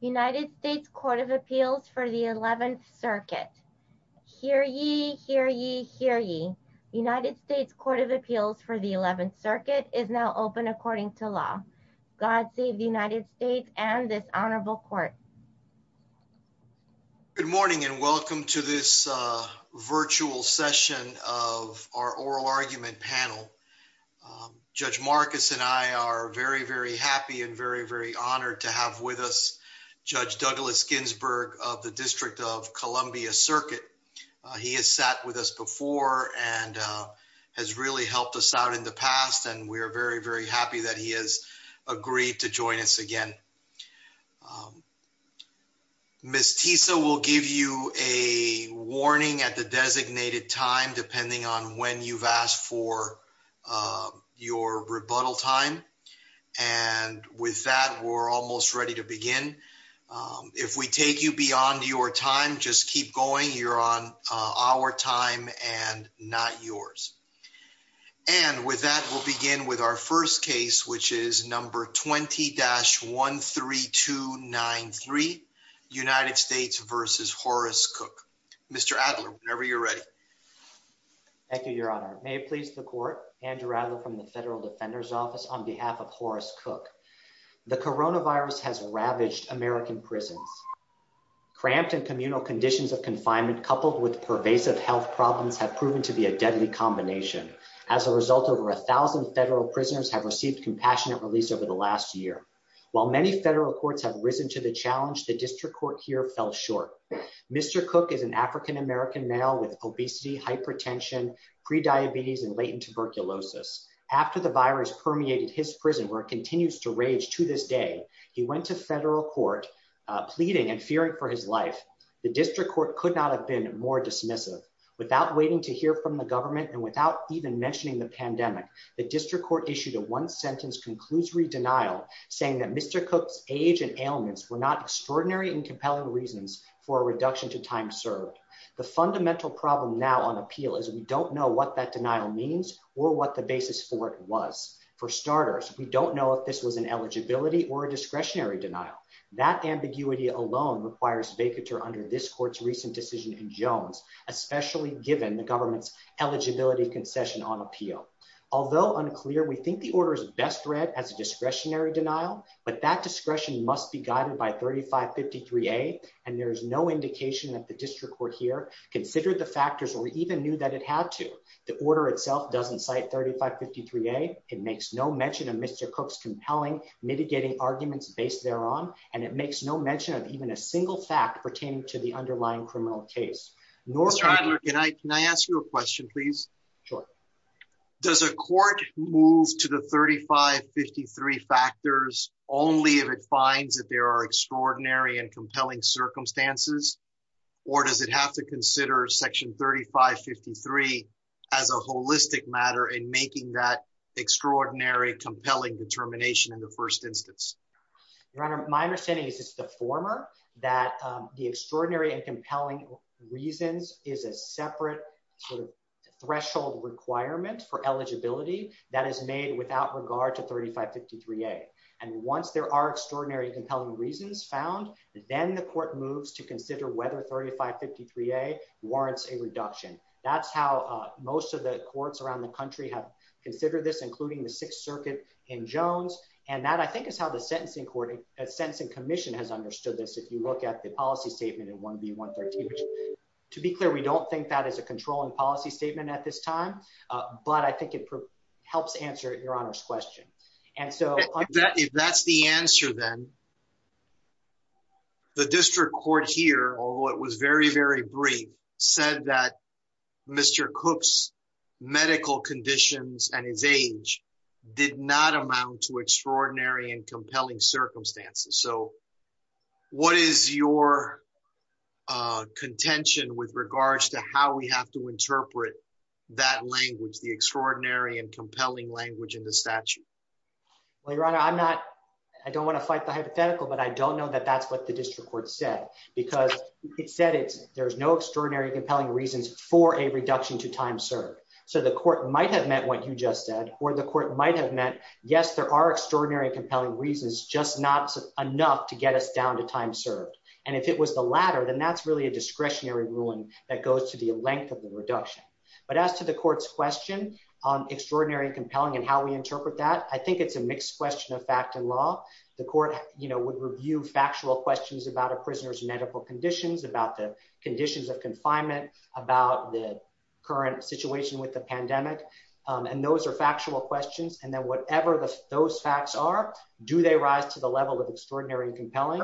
United States Court of Appeals for the 11th Circuit. Hear ye, hear ye, hear ye. United States Court of Appeals for the 11th Circuit is now open according to law. God save the United States and this honorable court. Good morning and welcome to this virtual session of our oral Judge Douglas Ginsburg of the District of Columbia Circuit. He has sat with us before and has really helped us out in the past and we are very, very happy that he has agreed to join us again. Ms. Tisa will give you a warning at the designated time depending on when you've asked for your rebuttal time. And with that, we're almost ready to begin. If we take you beyond your time, just keep going. You're on our time and not yours. And with that, we'll begin with our first case, which is number 20-13293 United States v. Horace Cook. Mr. Adler, whenever you're ready. Thank you, Your Honor. May it please the court, Andrew Adler from the Federal Defender's Office on behalf of Horace Cook. The coronavirus has ravaged American prisons. Cramped and communal conditions of confinement coupled with pervasive health problems have proven to be a deadly combination. As a result, over a thousand federal prisoners have received compassionate release over the last year. While many federal courts have risen to the challenge, the district court here hypertension, prediabetes, and latent tuberculosis. After the virus permeated his prison where it continues to rage to this day, he went to federal court pleading and fearing for his life. The district court could not have been more dismissive. Without waiting to hear from the government and without even mentioning the pandemic, the district court issued a one-sentence conclusory denial saying that Mr. Cook's age and ailments were not extraordinary and compelling reasons for a on appeal is we don't know what that denial means or what the basis for it was. For starters, we don't know if this was an eligibility or a discretionary denial. That ambiguity alone requires vacatur under this court's recent decision in Jones, especially given the government's eligibility concession on appeal. Although unclear, we think the order is best read as a discretionary denial, but that discretion must be guided by 3553A and there is no indication that the district court here considered the factors or even knew that it had to. The order itself doesn't cite 3553A. It makes no mention of Mr. Cook's compelling mitigating arguments based thereon and it makes no mention of even a single fact pertaining to the underlying criminal case. Mr. Adler, can I ask you a question please? Sure. Does a court move to the 3553 factors only if it finds that there are to consider section 3553 as a holistic matter in making that extraordinary compelling determination in the first instance? Your Honor, my understanding is it's the former that the extraordinary and compelling reasons is a separate sort of threshold requirement for eligibility that is made without regard to 3553A and once there are extraordinary and compelling reasons found, then the court moves to consider whether 3553A warrants a reduction. That's how most of the courts around the country have considered this, including the Sixth Circuit in Jones, and that I think is how the Sentencing Commission has understood this. If you look at the policy statement in 1B-113, which to be clear, we don't think that is a controlling policy statement at this time, but I think it helps answer Your Honor's question. If that's the answer then, the district court here, although it was very, very brief, said that Mr. Cook's medical conditions and his age did not amount to extraordinary and compelling circumstances. So what is your contention with regards to how we have to interpret that language, the extraordinary and compelling language in the statute? Well, Your Honor, I don't want to fight the hypothetical, but I don't know that that's what the district court said, because it said there's no extraordinary and compelling reasons for a reduction to time served. So the court might have meant what you just said, or the court might have meant, yes, there are extraordinary and compelling reasons, just not enough to get us down to time served. And if it was the latter, then that's really a discretionary ruling that goes to the length of the reduction. But as to the court's question on extraordinary and compelling and how we interpret that, I think it's a mixed question of fact and law. The court would review factual questions about a prisoner's medical conditions, about the conditions of confinement, about the current situation with the pandemic. And those are factual questions. And then whatever those facts are, do they rise to the level of extraordinary and compelling?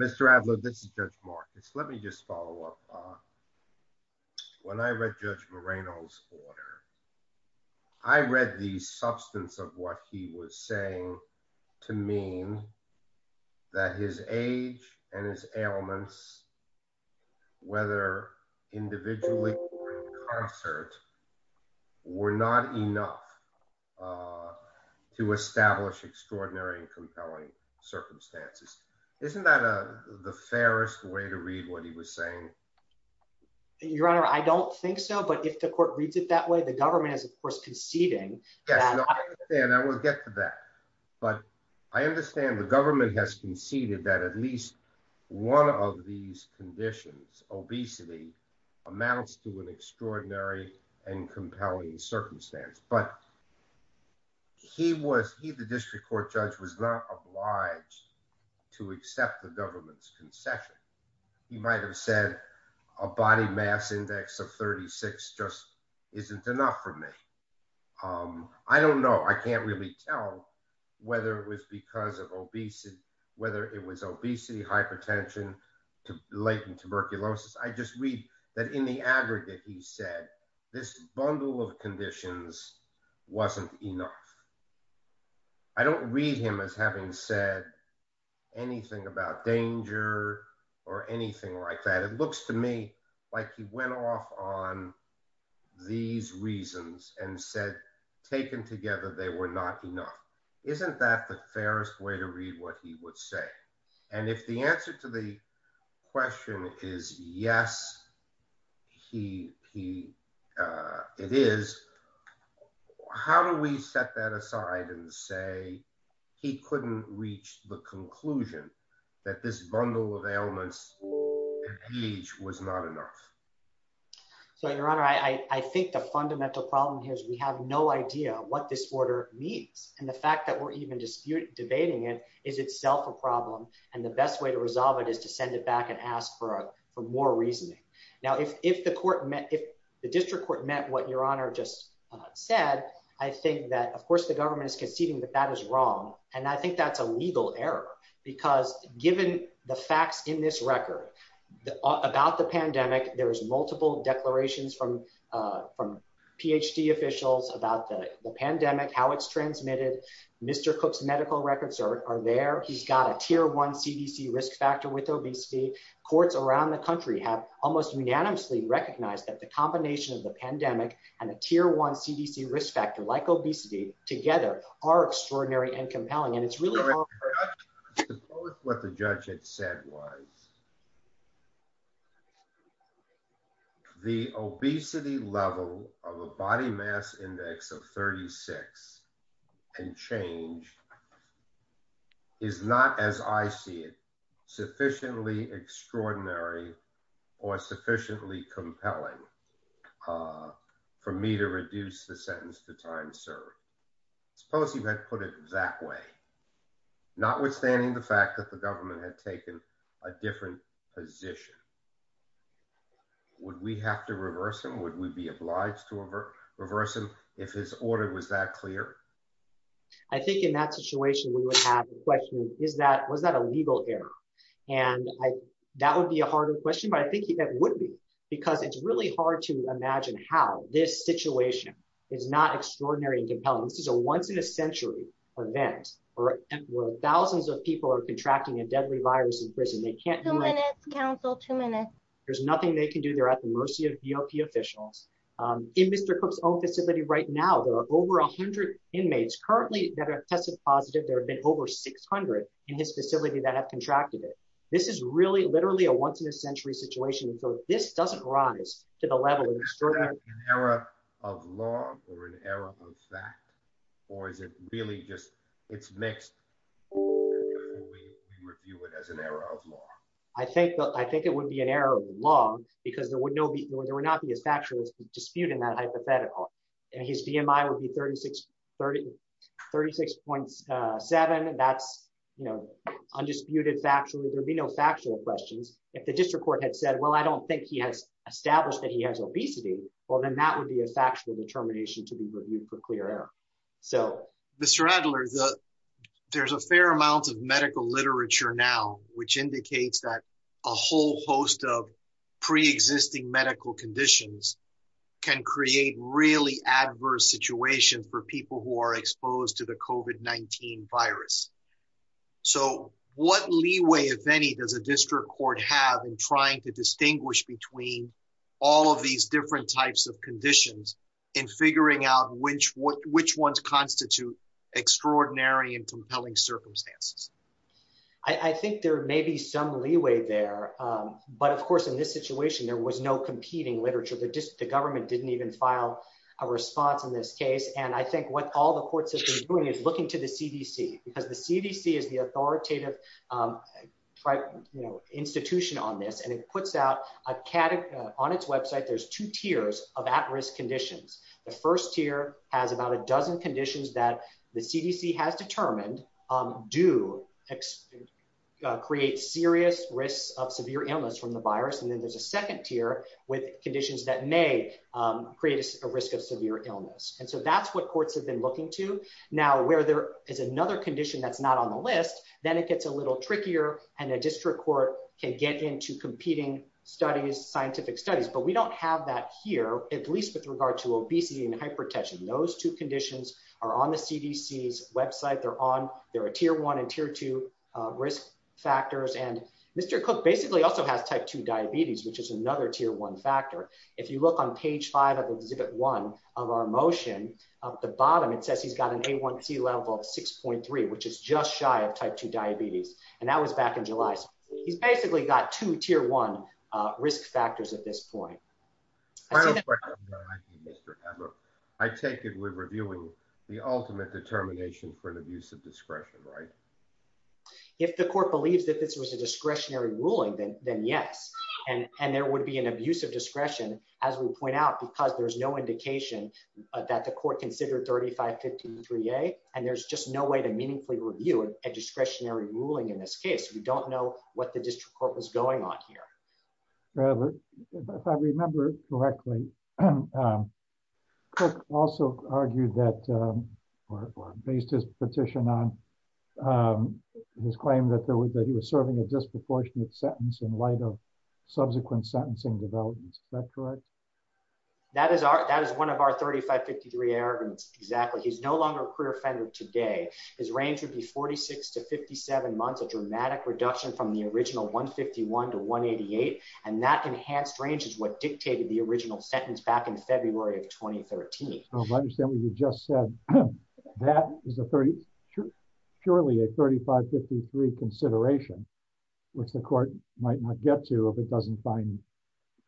Mr. Adler, this is Judge Marcus. Let me just follow up. When I read Judge Moreno's order, I read the substance of what he was saying to mean that his age and his ailments, whether individually or in concert, were not enough to establish extraordinary and compelling circumstances. Isn't that the fairest way to read what he was saying? Your Honor, I don't think so. But if the court reads it that way, the government is, of course, conceding. Yes, I understand. I will get to that. But I understand the government has conceded that at least one of these conditions, obesity, amounts to an extraordinary and compelling circumstance. But he was, he, the district court judge, was not obliged to accept the government's concession. He might have said a body mass index of 36 just isn't enough for me. I don't know. I can't really tell whether it was because of obesity, whether it was obesity, hypertension, latent tuberculosis. I just read that in the aggregate, he said this bundle of conditions wasn't enough. I don't read him as having said anything about danger or anything like that. It looks to me like he went off on these reasons and said, taken together, they were not enough. Isn't that the fairest way to read what he would say? And if the answer to the question is yes, he, he, it is, how do we set that aside and say, he couldn't reach the conclusion that this bundle of ailments and age was not enough? So your honor, I think the fundamental problem here is we have no idea what this order means. And the fact that we're even disputed debating it is itself a problem. And the best way to resolve it is to send it back and ask for a, for more reasoning. Now, if, if the court met, if the district court met what your honor just said, I think that of course the government is conceding, but that is wrong. And I think that's a legal error because given the facts in this record about the pandemic, there was multiple declarations from PhD officials about the pandemic, how it's transmitted. Mr. Cook's medical records are there. He's got a tier one CDC risk factor with obesity courts around the country have almost unanimously recognized that the combination of the pandemic and a tier one CDC risk factor like obesity together are extraordinary and compelling. And it's really what the judge had said was the obesity level of a body mass index of 36 and change is not as I see it sufficiently extraordinary or sufficiently compelling for me to reduce the sentence to time served. Suppose you had put it that way, notwithstanding the fact that the government had taken a different position. Would we have to reverse him? Would we be obliged to reverse him? If his order was that clear? I think in that situation, we would have a question. Is that, was that a legal error? And I, that would be a harder question, but I think that would be, because it's really hard to imagine how this situation is not extraordinary and compelling. This is a once in a century event where thousands of people are contracting a deadly virus in prison. They can't do it. Council two minutes. There's nothing they can do. They're at the mercy of BOP officials. In Mr. Cook's own facility right now, there are over a hundred inmates currently that have tested positive. There have been over 600 in his facility that have contracted it. This is really literally a once in a century situation. So this doesn't rise to the level of an error of law or an error I think it would be an error of law because there would not be a factual dispute in that hypothetical. And his DMI would be 36.7. That's, you know, undisputed factually. There'd be no factual questions. If the district court had said, well, I don't think he has established that he has obesity. Well, then that would be a factual determination to be reviewed for clear error. So. Mr. Adler, there's a fair amount of medical literature now, which indicates that a whole host of preexisting medical conditions can create really adverse situations for people who are exposed to the COVID-19 virus. So what leeway, if any, does a district court have in trying to distinguish between all of these different types of conditions and figuring out which ones constitute extraordinary and compelling circumstances? I think there may be some leeway there. But of course, in this situation, there was no competing literature. The government didn't even file a response in this case. And I think what all the courts have been doing is looking to the CDC because the CDC is the authoritative institution on this. And it puts out on its website, there's two tiers of at-risk conditions. The first tier has about a dozen conditions that the CDC has determined do create serious risks of severe illness from the virus. And then there's a second tier with conditions that may create a risk of severe illness. And so that's what courts have been looking to. Now, where there is another condition that's not on the list, then it gets a little trickier and a district court can get into competing studies, scientific studies. But we don't have that here, at least with regard to obesity and hypertension. Those two conditions are on the CDC's website. They're a tier one and tier two risk factors. And Mr. Cook basically also has type two diabetes, which is another tier one factor. If you look on page five of exhibit one of our motion, at the bottom, it says he's got an A1C level of 6.3, which is just shy of type two diabetes. And that was back in July. So he's basically got two tier one risk factors at this point. I take it we're reviewing the ultimate determination for an abuse of discretion, right? If the court believes that this was a discretionary ruling, then yes. And there would be an abuse of discretion, as we point out, because there's no indication that the court considered 3553A. And there's just no way to meaningfully review a discretionary ruling in this case. We don't know what the district court was going on here. Robert, if I remember correctly, Cook also argued that, or based his petition on his claim that he was serving a disproportionate sentence in light of subsequent sentencing developments. Is that correct? That is one of our 3553A arguments, exactly. He's no longer a career offender today. His range would be 46 to 57 months, a dramatic reduction from the original 151 to 188. And that enhanced range is what dictated the original sentence back in February of 2013. I understand what you just said. That is purely a 3553 consideration, which the court might not get to if it doesn't find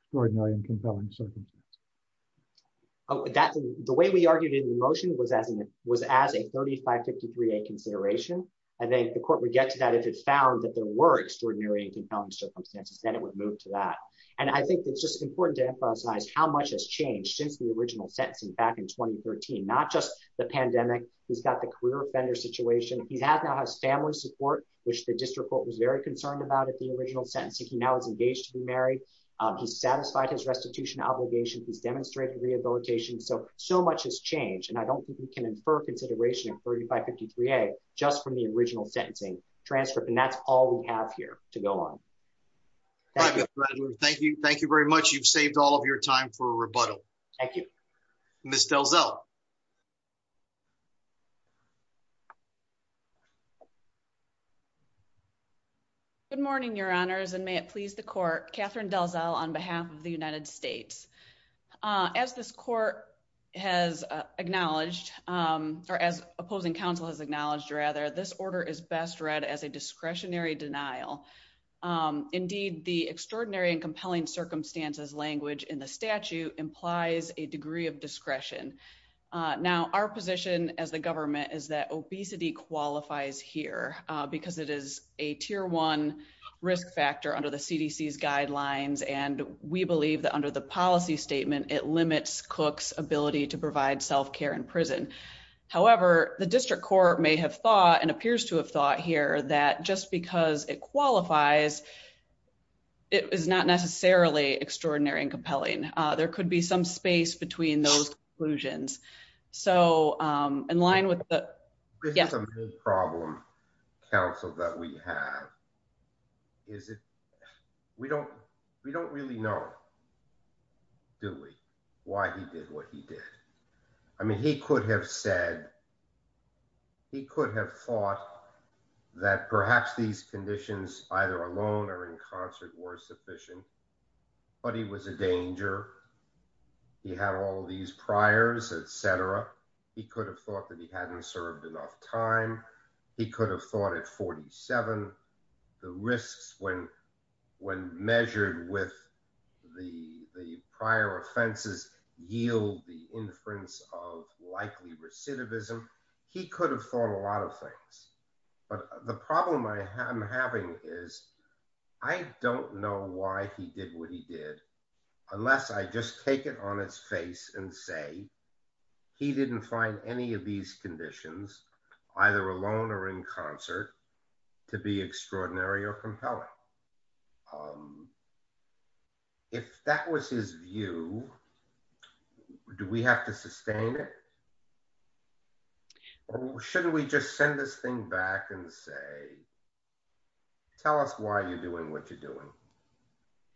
extraordinary and compelling circumstances. Oh, the way we argued in the motion was as a 3553A consideration. I think the court would get to that if it found that there were extraordinary and compelling circumstances, then it would move to that. And I think it's just important to emphasize how much has changed since the original sentencing back in 2013, not just the pandemic. He's got the career offender situation. He now has family support, which the district court was very concerned about at the original sentencing. He now is engaged to be married. He's satisfied his restitution obligations. He's demonstrated rehabilitation. So, so much has changed. And I don't think we can infer consideration of 3553A just from the original sentencing transcript. And that's all we have here to go on. Thank you. Thank you very much. You've saved all of your time for a rebuttal. Thank you. Ms. DelZell. Good morning, your honors, and may it please the court, Catherine DelZell on behalf of the United States. As this court has acknowledged, or as opposing counsel has acknowledged rather, this order is best read as a discretionary denial. Indeed, the extraordinary and compelling language in the statute implies a degree of discretion. Now our position as the government is that obesity qualifies here because it is a tier one risk factor under the CDC's guidelines. And we believe that under the policy statement, it limits Cook's ability to provide self-care in prison. However, the district court may have thought and appears to have thought here that just because it qualifies, it is not necessarily extraordinary and compelling. There could be some space between those conclusions. So in line with the- This is a big problem, counsel, that we have. Is it, we don't, we don't really know, do we? Why he did what he did. I mean, he could have said, he could have thought that perhaps these conditions either alone or in concert were sufficient, but he was a danger. He had all of these priors, et cetera. He could have thought that he hadn't served enough time. He could have thought at 47, the risks when, when measured with the, the prior offenses yield the inference of likely recidivism. He could have thought a lot of things, but the problem I am having is I don't know why he did what he did unless I just take it on his face and say, he didn't find any of these conditions either alone or in concert to be If that was his view, do we have to sustain it? Or shouldn't we just send this thing back and say, tell us why you're doing what you're doing.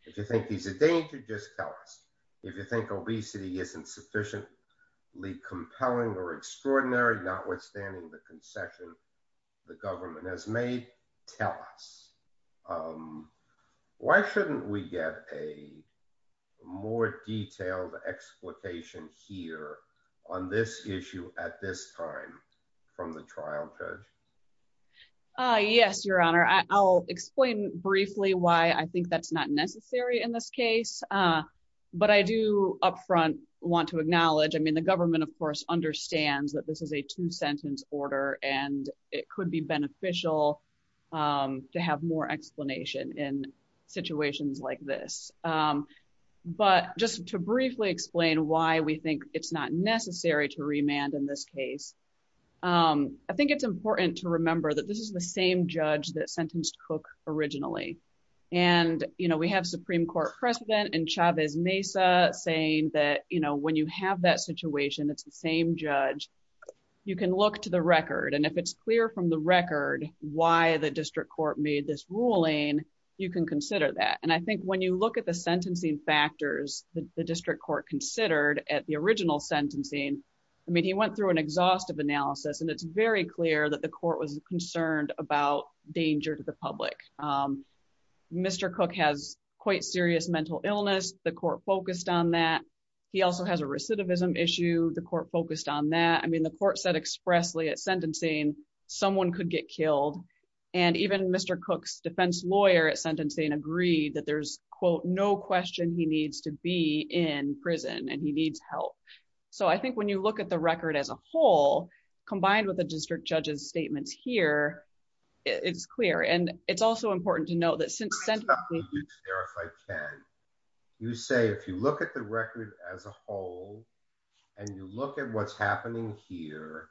If you think he's a danger, just tell us. If you think obesity isn't sufficiently compelling or extraordinary, notwithstanding the concession the government has made, tell us. Why shouldn't we get a more detailed exploitation here on this issue at this time from the trial judge? Yes, your honor. I'll explain briefly why I think that's not necessary in this case. But I do upfront want to acknowledge, I mean, the government of course understands that this is a two sentence order and it could be beneficial to have more explanation in situations like this. But just to briefly explain why we think it's not necessary to remand in this case. I think it's important to remember that this is the same judge that sentenced cook originally. And, you know, we have Supreme court precedent and Chavez Mesa saying that, you know, when you have that situation, it's the same judge. You can look to the record. And if it's clear from the record, why the district court made this ruling, you can consider that. And I think when you look at the sentencing factors, the district court considered at the original sentencing, I mean, he went through an exhaustive analysis and it's very clear that the court was concerned about danger to the public. Mr. Cook has quite serious mental illness. The court focused on that. He also has a recidivism issue. The court focused on that. I mean, the court said expressly at sentencing, someone could get killed. And even Mr. Cook's defense lawyer at sentencing agreed that there's quote, no question he needs to be in prison and he needs help. So I think when you look at the record as a whole, combined with the district judges statements here, it's clear. And it's also important to note that since you say, if you look at the record as a whole and you look at what's happening here,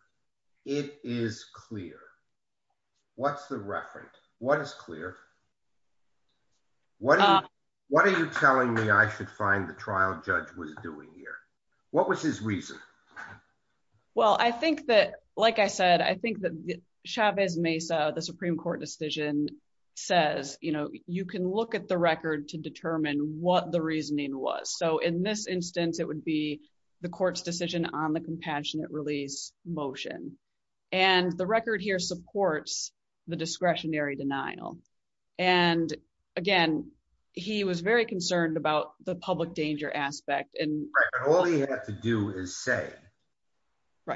it is clear. What's the reference? What is clear? What are you telling me? I should find the trial judge was doing here. What was his reason? Well, I think that, like I said, I think that Chavez Mesa, the Supreme court decision says, you know, you can look at the record to determine what the reasoning was. So in this instance, it would be the court's decision on the compassionate release motion. And the record here supports the discretionary denial. And again, he was very concerned about the public danger aspect. And all he had to do is say,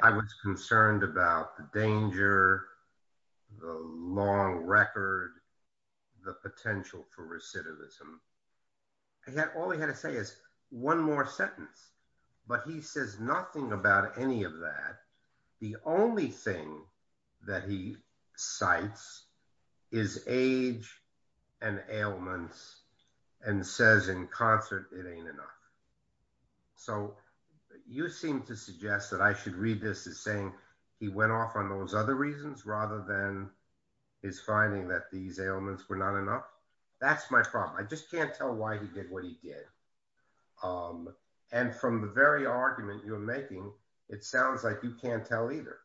I was concerned about the danger, the long record, the potential for recidivism. All he had to say is one more sentence, but he says nothing about any of that. The only thing that he cites is age and ailments and says in concert, it ain't enough. So you seem to suggest that I should read this as saying he went off on those other reasons, rather than his finding that these ailments were not enough. That's my problem. I just can't tell why he did what he did. And from the very argument you're making, it sounds like you can't tell either.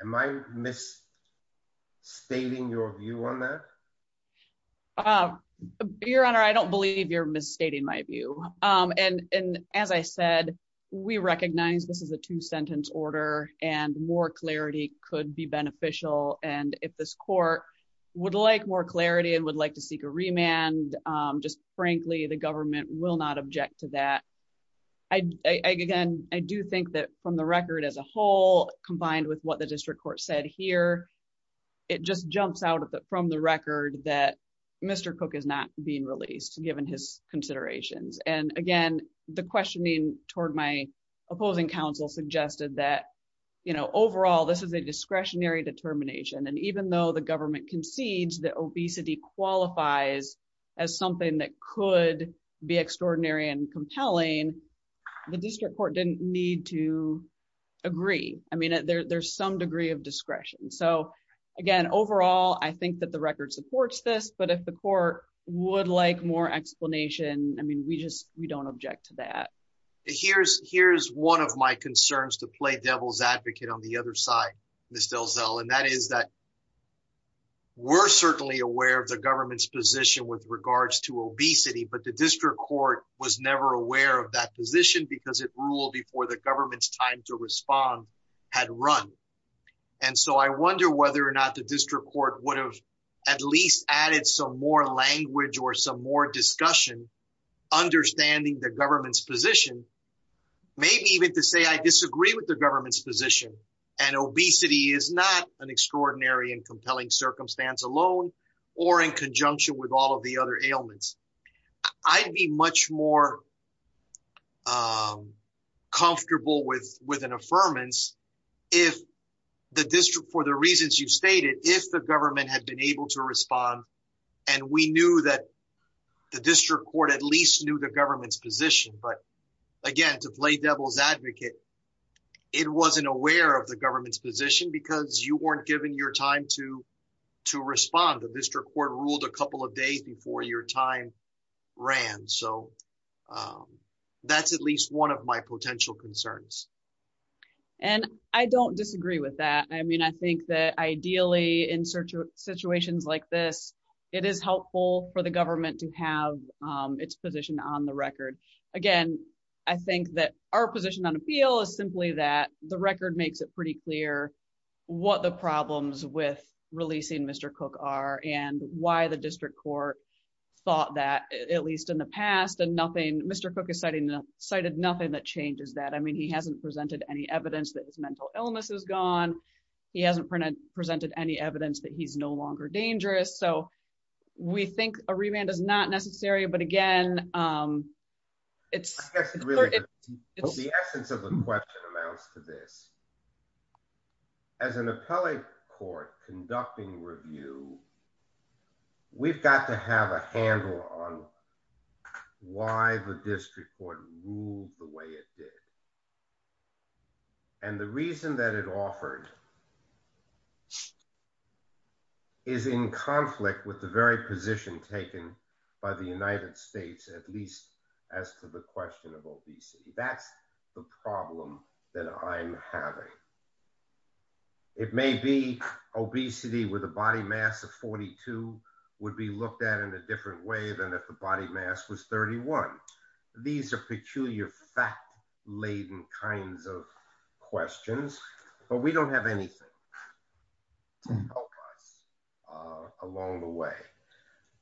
Am I miss stating your view on that? Oh, your honor, I don't believe you're misstating my view. And as I said, we recognize this is a two sentence order and more clarity could be beneficial. And if this court would like more clarity and would like to seek a remand, just frankly, the government will not object to that. I again, I do think that from the record as a whole, combined with what the district court said here, it just jumps out from the record that Mr. Cook is not being released given his considerations. And again, the questioning toward my opposing counsel suggested that, you know, overall, this is a discretionary determination. And even though the government concedes that obesity qualifies as something that could be extraordinary and compelling, the district court didn't need to agree. I mean, there's some degree of discretion. So again, overall, I think that the record supports this, but if the court would like more explanation, I mean, we just, we don't object to that. Here's one of my concerns to play devil's advocate on the other side, Ms. Delzell, and that is that we're certainly aware of the government's position with regards to obesity, but the district court was never aware of that position because it ruled before the government's time to respond had run. And so I wonder whether or not the district court would have at least added some more language or some more discussion, understanding the government's position, maybe even to say, I disagree with the government's position. And obesity is not an extraordinary and compelling circumstance alone or in conjunction with all of the other ailments. I'd be much more comfortable with an affirmance if the district, for the reasons you've stated, if the government had been able to respond and we knew that the district court at least knew the government's position, but again, to play devil's advocate, it wasn't aware of the government's given your time to respond. The district court ruled a couple of days before your time ran. So that's at least one of my potential concerns. And I don't disagree with that. I mean, I think that ideally in such situations like this, it is helpful for the government to have its position on the record. Again, I think that our position on appeal is simply that the record makes it pretty clear what the problems with releasing Mr. Cook are and why the district court thought that at least in the past and nothing, Mr. Cook has cited nothing that changes that. I mean, he hasn't presented any evidence that his mental illness is gone. He hasn't presented any evidence that he's no longer dangerous. So we think a remand is not necessary, but again, it's... The essence of the question amounts to this. As an appellate court conducting review, we've got to have a handle on why the district court ruled the way it did. And the reason that it offered is in conflict with the very position taken by the United States, at least as to the question of obesity. That's the problem that I'm having. It may be obesity with a body mass of 42 would be looked at in a different way than if the body mass was 31. These are peculiar fact-laden kinds of questions, but we don't have anything to help us along the way.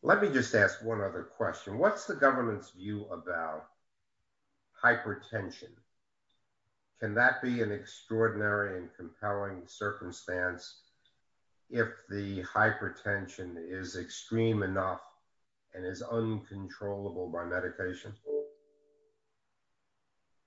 Let me just ask one other question. What's the government's view about hypertension? Can that be an extraordinary and compelling circumstance if the hypertension is extreme enough and is uncontrollable by medication?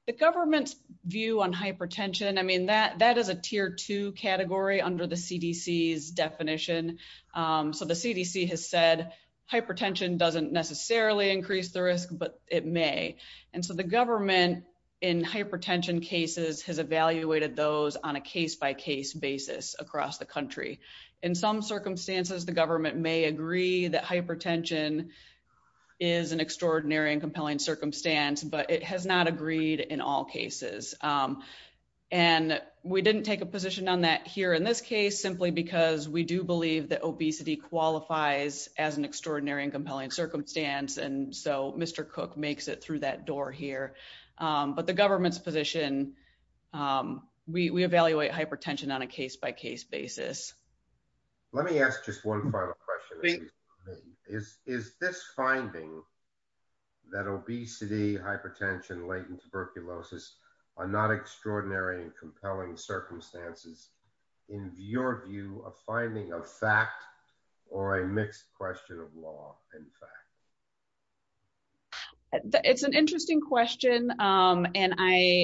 The government's view on hypertension, I mean, that is a tier two category under the CDC's definition. So the CDC has said hypertension doesn't necessarily increase the risk, but it may. And so the government in hypertension cases has evaluated those on a case-by-case basis across the country. In some circumstances, the government may agree that hypertension is an extraordinary and compelling circumstance, but it has not agreed in all cases. And we didn't take a position on that here in this case, simply because we do believe that obesity qualifies as an extraordinary and compelling circumstance. And so Mr. Cook makes it through that door here. But the government's position, we evaluate hypertension on a case-by- case basis. Let me ask just one final question. Is this finding that obesity, hypertension, latent tuberculosis are not extraordinary and compelling circumstances in your view of finding a fact or a mixed question of law and fact? It's an interesting question. And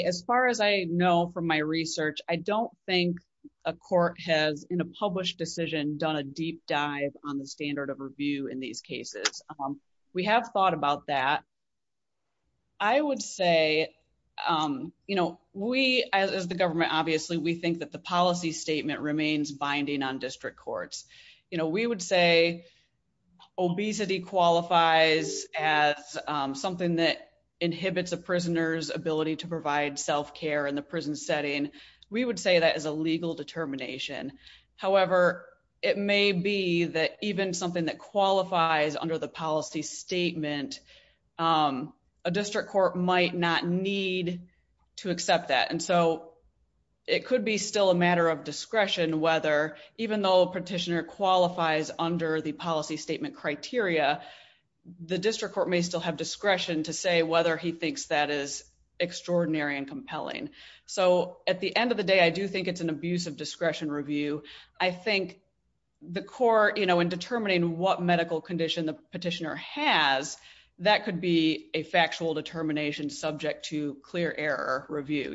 as far as I from my research, I don't think a court has in a published decision done a deep dive on the standard of review in these cases. We have thought about that. I would say, as the government, obviously, we think that the policy statement remains binding on district courts. We would say obesity qualifies as something that inhibits a prisoner's ability to provide self-care and the we would say that is a legal determination. However, it may be that even something that qualifies under the policy statement, a district court might not need to accept that. And so it could be still a matter of discretion, whether even though a petitioner qualifies under the policy statement criteria, the district court may still have discretion to say whether he at the end of the day, I do think it's an abuse of discretion review. I think the court in determining what medical condition the petitioner has, that could be a factual determination subject to clear error review.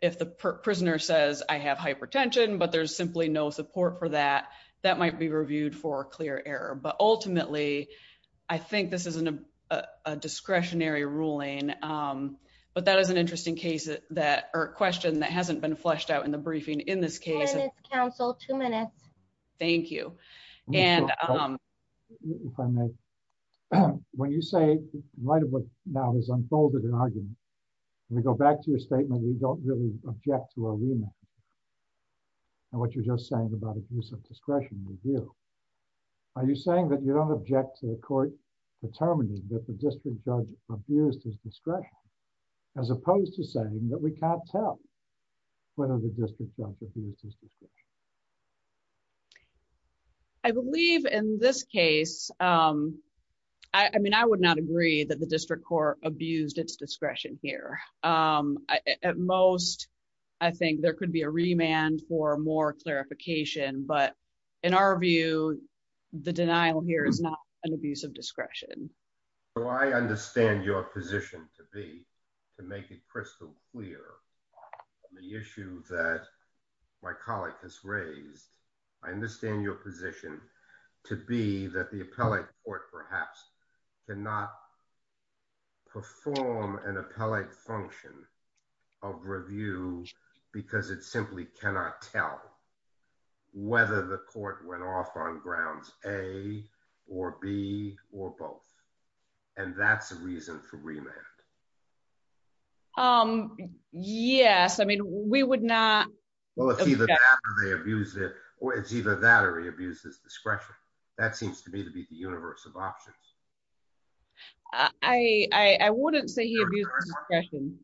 If the prisoner says, I have hypertension, but there's simply no support for that, that might be reviewed for clear error. But ultimately, I think this is a discretionary ruling. But that is an interesting case that or question that hasn't been fleshed out in the briefing in this case. Council two minutes. Thank you. And when you say right about now has unfolded an argument. We go back to your statement, we don't really object to arena. And what you're just saying about abuse of discretion review. Are you saying that you don't object to the court determining that the district judge abused his discretion, as opposed to saying that we can't tell whether the district judge I believe in this case, I mean, I would not agree that the district court abused its discretion here. At most, I think there could be a remand for more clarification. But in our view, the denial here is not an abuse of discretion. So I understand your position to be to make it crystal clear the issue that my colleague has raised. I understand your position to be that the appellate court perhaps cannot perform an appellate function of review, because it simply cannot tell whether the court went off on grounds A, or B, or both. And that's a reason for remand. Um, yes, I mean, we would not. Well, it's either they abused it, or it's either that or he abuses discretion. That seems to me to be the universe of options. I wouldn't say he abused discretion.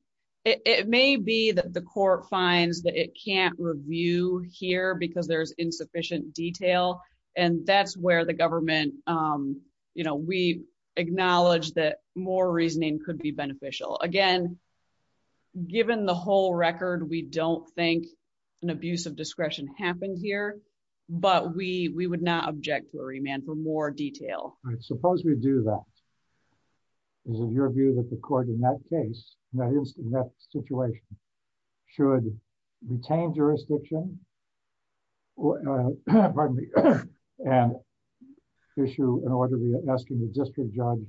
It may be that the court finds that it can't review here because there's insufficient detail. And that's where the government, you know, we acknowledge that more reasoning could be beneficial. Again, given the whole record, we don't think an abuse of discretion happened here. But we would not object to a remand for detail. Suppose we do that. Is it your view that the court in that case, that is in that situation, should retain jurisdiction? Or, pardon me, an issue in order to be asking the district judge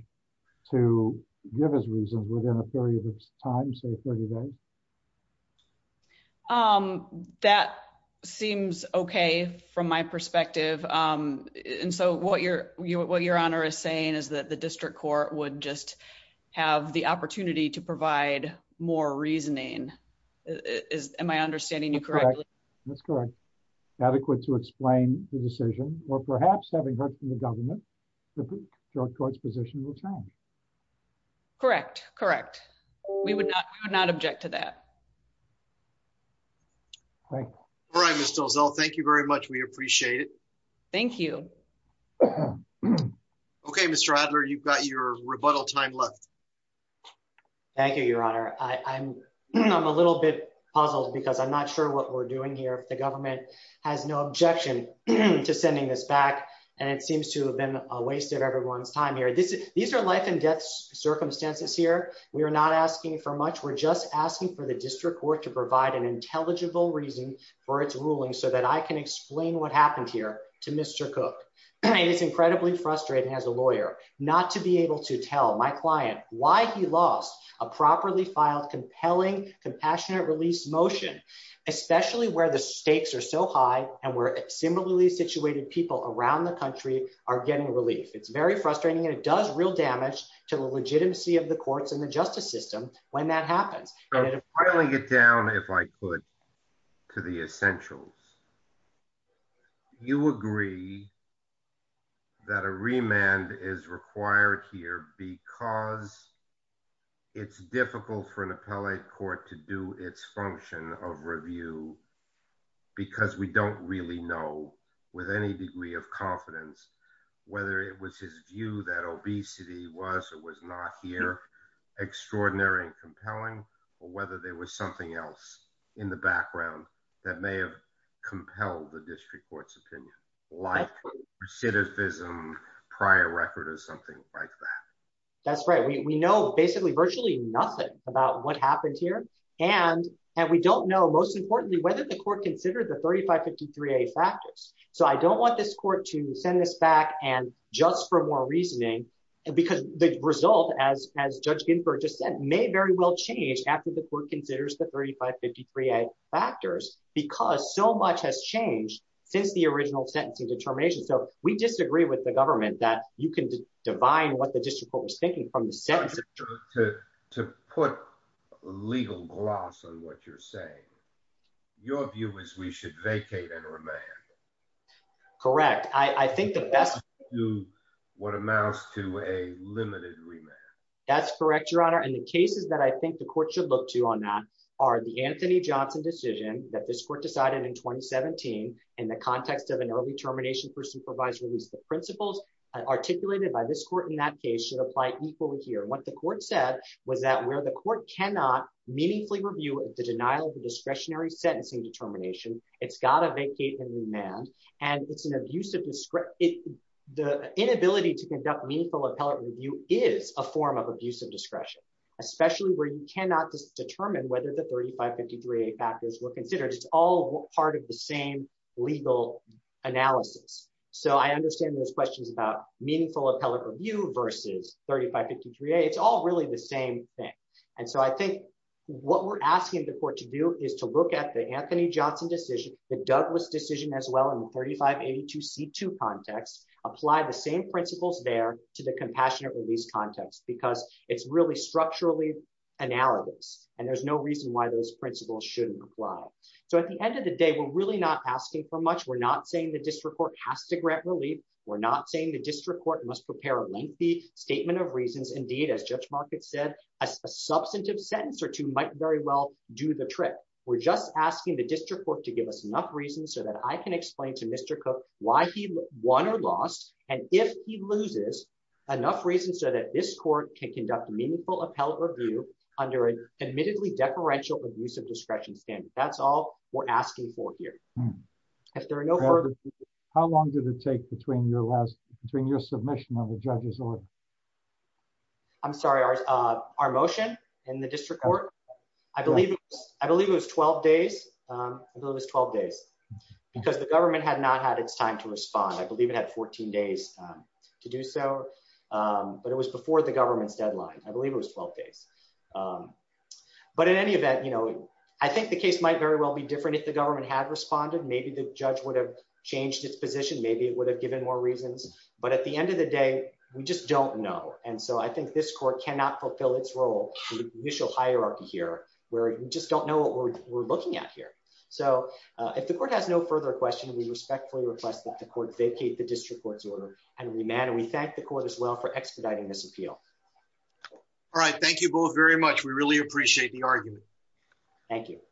to give his reasons within a period of time, say 30 days? Um, that seems okay, from my perspective. And so what you're, what your honor is saying is that the district court would just have the opportunity to provide more reasoning. Am I understanding you correctly? That's correct. Adequate to explain the decision, or perhaps having heard from the government, the court's position will change. Correct, correct. We would not object to that. All right. All right. Mr. Ozzel, thank you very much. We appreciate it. Thank you. Okay, Mr. Adler, you've got your rebuttal time left. Thank you, your honor. I'm a little bit puzzled because I'm not sure what we're doing here. If the government has no objection to sending this back, and it seems to have been a waste of everyone's time here. These are life and death circumstances here. We are not asking for much. We're just asking for the district court to provide an intelligible reason for its ruling, so that I can explain what happened here to Mr. Cook. It is incredibly frustrating as a lawyer, not to be able to tell my client why he lost a properly filed, compelling, compassionate release motion, especially where the stakes are so high, and where similarly situated people around the country are getting relief. It's very frustrating, and it does real damage to the legitimacy of the justice system when that happens. I'll only get down, if I could, to the essentials. You agree that a remand is required here because it's difficult for an appellate court to do its function of review, because we don't really know with any degree of confidence whether it was his view that obesity was or was not here extraordinary and compelling, or whether there was something else in the background that may have compelled the district court's opinion, like recidivism, prior record, or something like that. That's right. We know basically virtually nothing about what happened here, and we don't know, most importantly, whether the court considered the 3553A factors. I don't want this court to send this back just for more reasoning, because the result, as Judge Ginsburg just said, may very well change after the court considers the 3553A factors, because so much has changed since the original sentencing determination. We disagree with the government that you can divine what the district court was to put legal gloss on what you're saying. Your view is we should vacate and remand. Correct. I think the best would do what amounts to a limited remand. That's correct, Your Honor, and the cases that I think the court should look to on that are the Anthony Johnson decision that this court decided in 2017 in the context of an early termination for supervisory release. The court said was that where the court cannot meaningfully review the denial of the discretionary sentencing determination, it's got to vacate and remand. The inability to conduct meaningful appellate review is a form of abusive discretion, especially where you cannot determine whether the 3553A factors were considered. It's all part of the same legal analysis. I understand those all really the same thing. I think what we're asking the court to do is to look at the Anthony Johnson decision, the Douglas decision as well in the 3582C2 context, apply the same principles there to the compassionate release context, because it's really structurally analogous, and there's no reason why those principles shouldn't apply. At the end of the day, we're really not asking for much. We're not saying the district court has to grant relief. We're not saying the district court must prepare a lengthy statement of reasons. Indeed, as Judge Markett said, a substantive sentence or two might very well do the trick. We're just asking the district court to give us enough reasons so that I can explain to Mr. Cook why he won or lost, and if he loses, enough reasons so that this court can conduct meaningful appellate review under an admittedly deferential abusive discretion standard. That's all we're asking for this year. How long did it take between your submission and the judge's order? I'm sorry, our motion in the district court? I believe it was 12 days, because the government had not had its time to respond. I believe it had 14 days to do so, but it was before the government's deadline. I believe it was 12 days, but in any event, I think the case might very well be different if the government had responded. Maybe the judge would have changed its position. Maybe it would have given more reasons, but at the end of the day, we just don't know, and so I think this court cannot fulfill its role in the initial hierarchy here, where we just don't know what we're looking at here. So if the court has no further questions, we respectfully request that the court vacate the district court's order and remand, and we thank the court as well for expediting this appeal. All right, thank you both very much. We really appreciate the argument. Thank you.